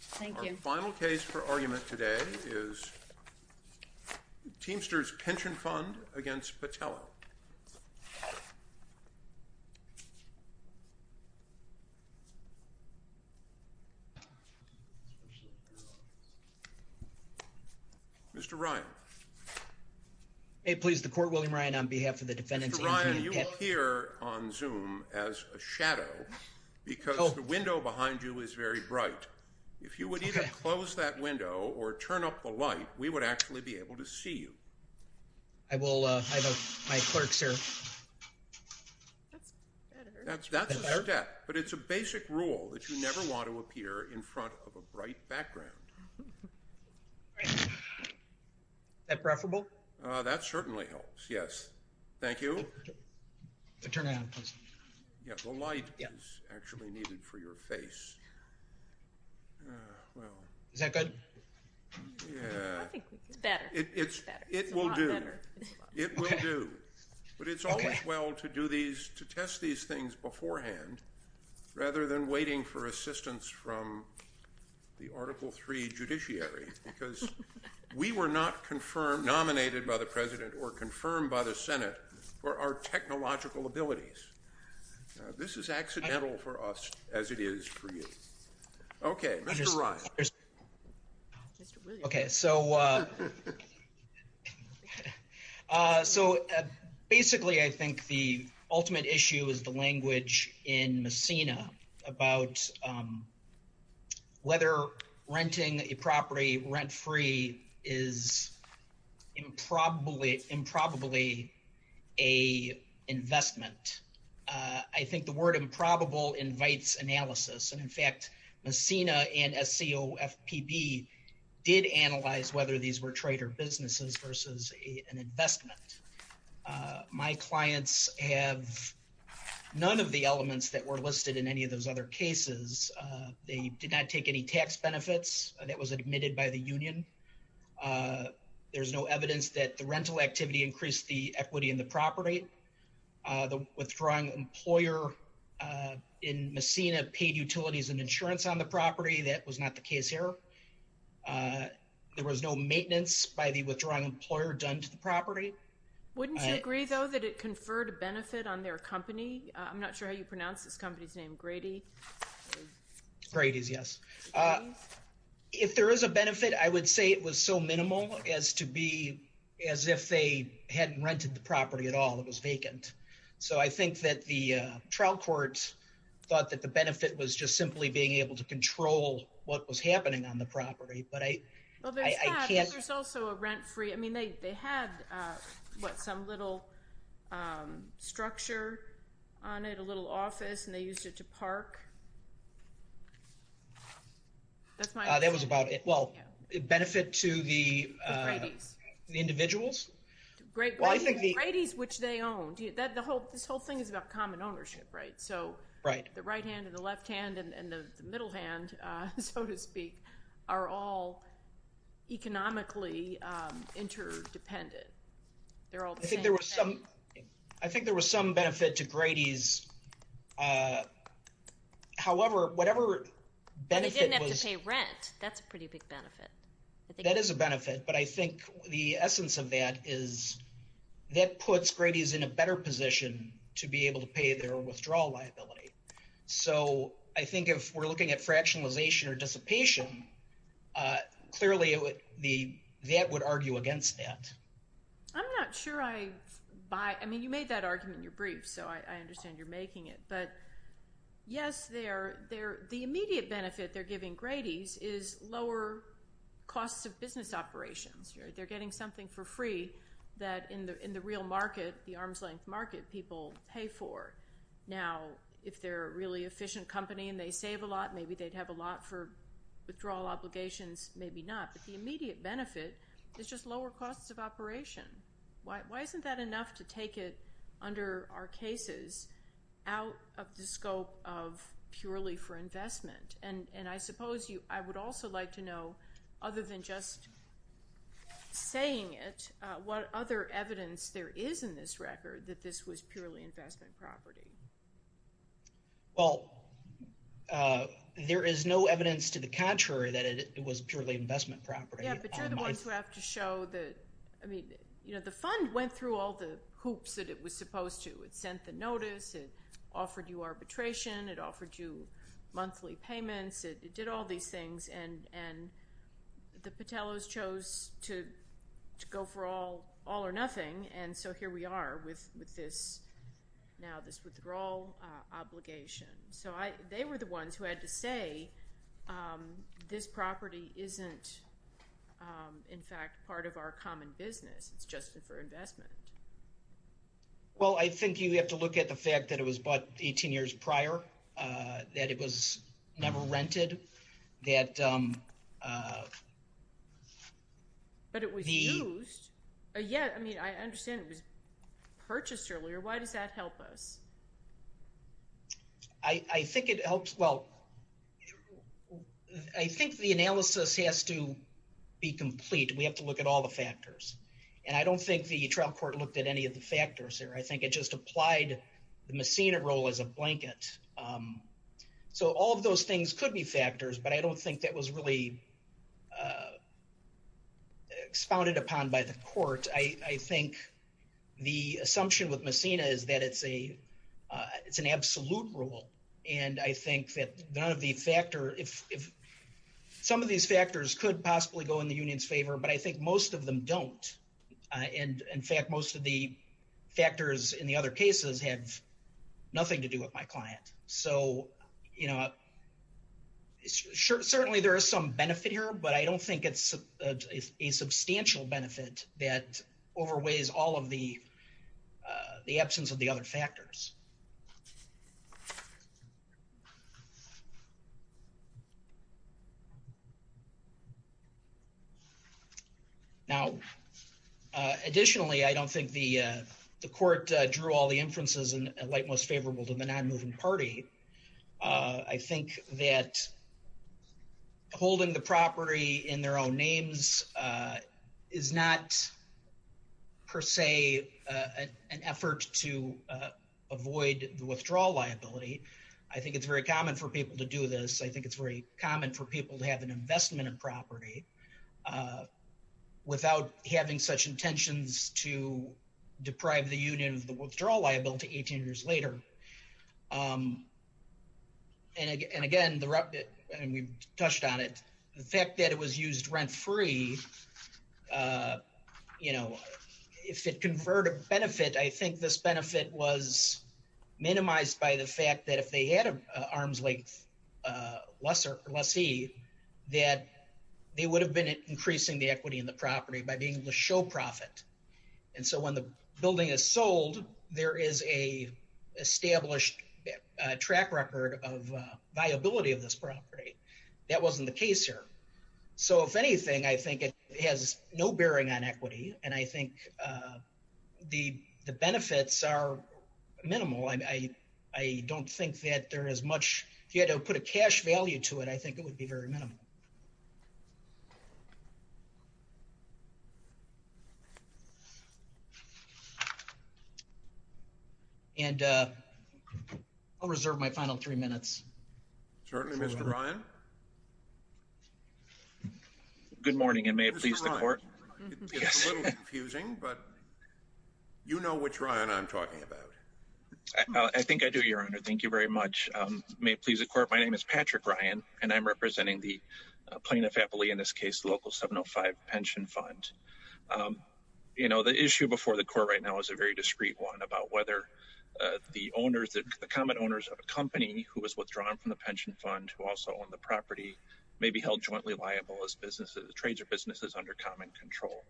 Thank you. Our final case for argument today is Teamsters Pension Fund against Pitello. Mr. Ryan. May it please the court, William Ryan on behalf of the defendants. Mr. Ryan, you appear on camera. If you would either close that window or turn up the light, we would actually be able to see you. I will. I have my clerks here. That's a step, but it's a basic rule that you never want to appear in front of a bright background. Is that preferable? That certainly helps, yes. Thank you. Turn it on, please. Yes, the light is actually needed for your face. Is that good? Yeah. I think it's better. It will do. It will do. But it's always well to do these, to test these things beforehand, rather than waiting for assistance from the Article III judiciary. Because we were not confirmed, nominated by the President or confirmed by the Senate for our technological abilities. This is accidental for us, as it is for you. Okay, Mr. Ryan. Okay, so basically, I think the ultimate issue is the language in Messina about whether renting a property rent-free is improbably an investment. I think the word improbable invites analysis. And in fact, Messina and SCOFPB did analyze whether these were trader businesses versus an investment. My clients have none of the elements that were listed in any of those other cases. They did not take any tax benefits. That was admitted by the union. There's no evidence that the rental activity increased the equity in the property. The withdrawing employer in Messina paid utilities and insurance on the property. That was not the case here. There was no maintenance by the withdrawing employer done to the property. Wouldn't you agree, though, that it conferred a benefit on their company? I'm not sure how you pronounce this company's name. Grady? Grady's, yes. If there is a benefit, I would say it was so minimal as to be as if they hadn't rented the property at all. It was vacant. I think that the trial court thought that the benefit was just simply being able to control what was happening on the property. There's that, but there's also a rent-free. They had some little structure on it, a little office, and they used it to park. That was about it. Benefit to the individuals? Grady's, which they owned. This whole thing is about common ownership, right? The right hand and the left hand and the middle hand, so to speak, are all economically interdependent. I think there was some benefit to Grady's. They didn't have to pay rent. That's a pretty big benefit. That is a benefit, but I think the essence of that is that puts Grady's in a better position to be able to pay their withdrawal liability. I think if we're looking at fractionalization or dissipation, clearly that would argue against that. I'm not sure I buy. I mean, you made that argument in your brief, so I understand you're making it. Yes, the immediate benefit they're giving Grady's is lower costs of business operations. They're getting something for free that in the real market, the arm's-length market, people pay for. Now, if they're a really efficient company and they save a lot, maybe they'd have a lot for withdrawal obligations, maybe not. The immediate benefit is just lower costs of operation. Why isn't that enough to take it, under our cases, out of the scope of purely for investment? I suppose I would also like to know, other than just saying it, what other evidence there is in this record that this was purely investment property? Well, there is no evidence to the contrary that it was purely investment property. Yeah, but you're the ones who have to show that the fund went through all the hoops that it was supposed to. It sent the notice. It offered you arbitration. It offered you monthly payments. It did all these things. And the Patelos chose to go for all or nothing, and so here we are with now this withdrawal obligation. So they were the ones who had to say, this property isn't, in fact, part of our common business. It's just for investment. Well, I think you have to look at the fact that it was bought 18 years prior, that it was never rented, that... But it was used. Yeah, I mean, I understand it was purchased earlier. Why does that help us? I think it helps, well, I think the analysis has to be complete. We have to look at all the factors. And I don't think the trial court looked at any of the factors here. I think it just applied the Messina role as a blanket. So all of those things could be factors, but I don't think that was really expounded upon by the court. I think the assumption with Messina is that it's an absolute rule. And I think that some of these factors could possibly go in the union's favor, but I think most of them don't. And, in fact, most of the factors in the other cases have nothing to do with my client. So, you know, certainly there is some benefit here, but I don't think it's a substantial benefit that overweighs all of the absence of the other factors. Now, additionally, I don't think the court drew all the inferences in light most favorable to the non-moving party. I think that holding the property in their own names is not, per se, an effort to avoid the withdrawal liability. I think it's very common for people to do this. I think it's very common for people to have an investment in property without having such intentions to deprive the union of the withdrawal liability 18 years later. And, again, and we've touched on it, the fact that it was used rent-free, you know, if it conferred a benefit, I think this benefit was minimized by the fact that if they had an arm's length lessee, that they would have been increasing the equity in the property by being the show profit. And so when the building is sold, there is a established track record of viability of this property. That wasn't the case here. So, if anything, I think it has no bearing on equity, and I think the benefits are minimal. I don't think that there is much, if you had to put a cash value to it, I think it would be very minimal. And I'll reserve my final three minutes. Certainly, Mr. Ryan. Good morning, and may it please the court. It's a little confusing, but you know which Ryan I'm talking about. I think I do, Your Honor. Thank you very much. May it please the court, my name is Patrick Ryan, and I'm representing the plaintiff appellee in this case, Local 705 Pension Fund. You know, the issue before the court right now is a very discreet one, about whether the common owners of a company who was withdrawn from the pension fund, who also owned the property, may be held jointly liable as trades or businesses under common control.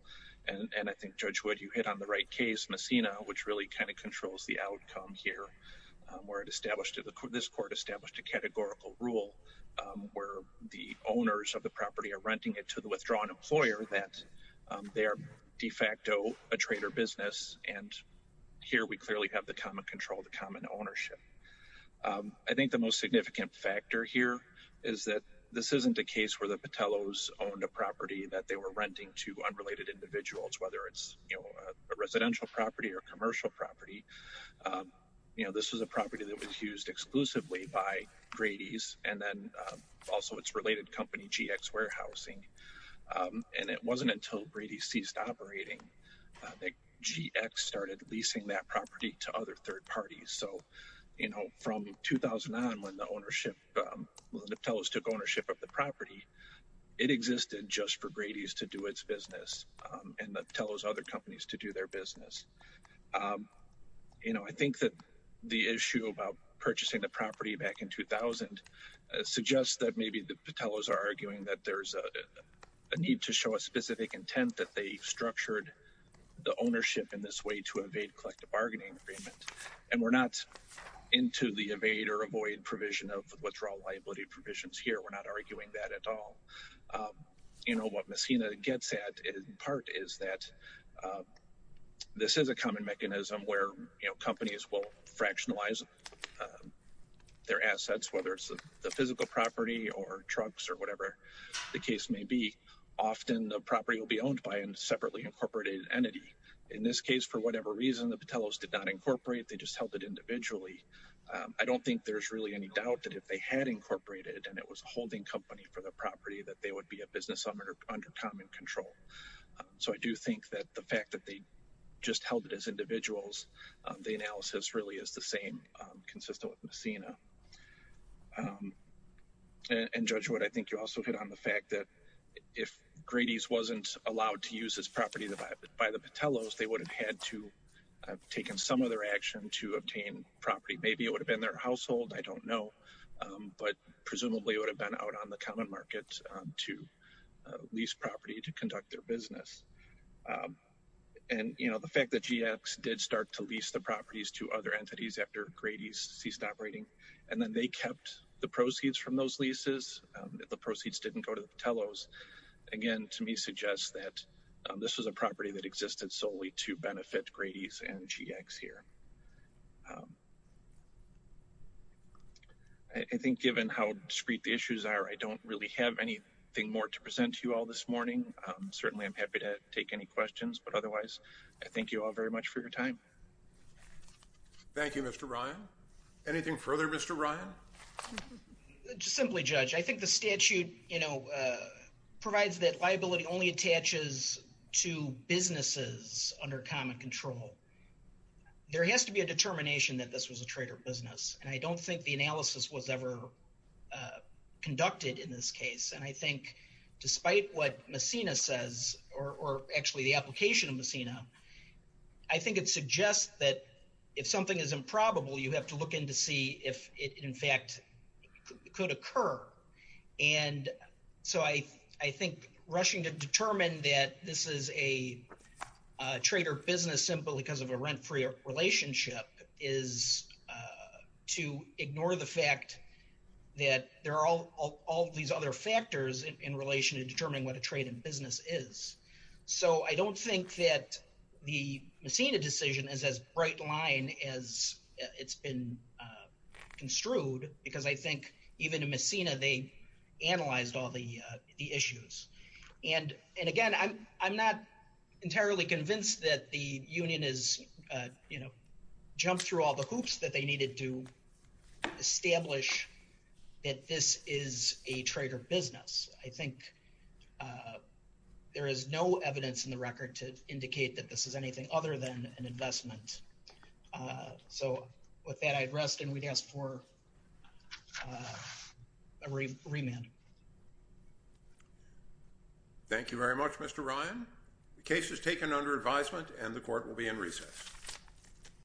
And I think, Judge Wood, you hit on the right case, Messina, which really kind of controls the outcome here, where this court established a categorical rule where the owners of the property are renting it to the withdrawn employer that they are de facto a trade or business, and here we clearly have the common control, the common ownership. I think the most significant factor here is that this isn't a case where the Patellos owned a property that they were renting to unrelated individuals, whether it's a residential property or a commercial property. You know, this was a property that was used exclusively by Grady's, and then also its related company, GX Warehousing. And it wasn't until Grady's ceased operating that GX started leasing that property to other third parties. So, you know, from 2009 when the ownership, when the Patellos took ownership of the property, it existed just for Grady's to do its business, and the Patellos' other companies to do their business. You know, I think that the issue about purchasing the property back in 2000 suggests that maybe the Patellos are arguing that there's a need to show a specific intent that they structured the ownership in this way to evade collective bargaining agreement. And we're not into the evade or avoid provision of withdrawal liability provisions here. We're not arguing that at all. You know, what Messina gets at, in part, is that this is a common mechanism where companies will fractionalize their assets, whether it's the physical property or trucks or whatever the case may be. Often the property will be owned by a separately incorporated entity. In this case, for whatever reason, the Patellos did not incorporate, they just held it individually. I don't think there's really any doubt that if they had incorporated and it was a holding company for the property, that they would be a business under common control. So I do think that the fact that they just held it as individuals, the analysis really is the same consistent with Messina. And Judge Wood, I think you also hit on the fact that if Grady's wasn't allowed to use this property by the Patellos, they would have had to have taken some other action to obtain property. Maybe it would have been their household, I don't know. But presumably it would have been out on the common market to lease property to conduct their business. And, you know, the fact that GX did start to lease the properties to other entities after Grady's ceased operating, and then they kept the proceeds from those leases, the proceeds didn't go to the Patellos, again, to me suggests that this was a property that existed solely to benefit Grady's and GX here. I think given how discreet the issues are, I don't really have anything more to present to you all this morning. Certainly I'm happy to take any questions, but otherwise, I thank you all very much for your time. Thank you, Mr. Ryan. Anything further, Mr. Ryan? Simply, Judge, I think the statute, you know, provides that liability only attaches to businesses under common control. There has to be a determination that this was a trade or business. And I don't think the analysis was ever conducted in this case. And I think despite what Messina says, or actually the application of Messina, I think it suggests that if something is improbable, you have to look in to see if it in fact could occur. And so I think rushing to determine that this is a trade or business simply because of a rent-free relationship is to ignore the fact that there are all these other factors in relation to determining what a trade and business is. So I don't think that the Messina decision is as bright line as it's been construed, because I think even in Messina, they analyzed all the issues. And again, I'm not entirely convinced that the union has jumped through all the hoops that they needed to establish that this is a trade or business. I think there is no evidence in the record to indicate that this is anything other than an investment. So with that, I'd rest and we'd ask for a remand. Thank you very much, Mr. Ryan. The case is taken under advisement and the court will be in recess.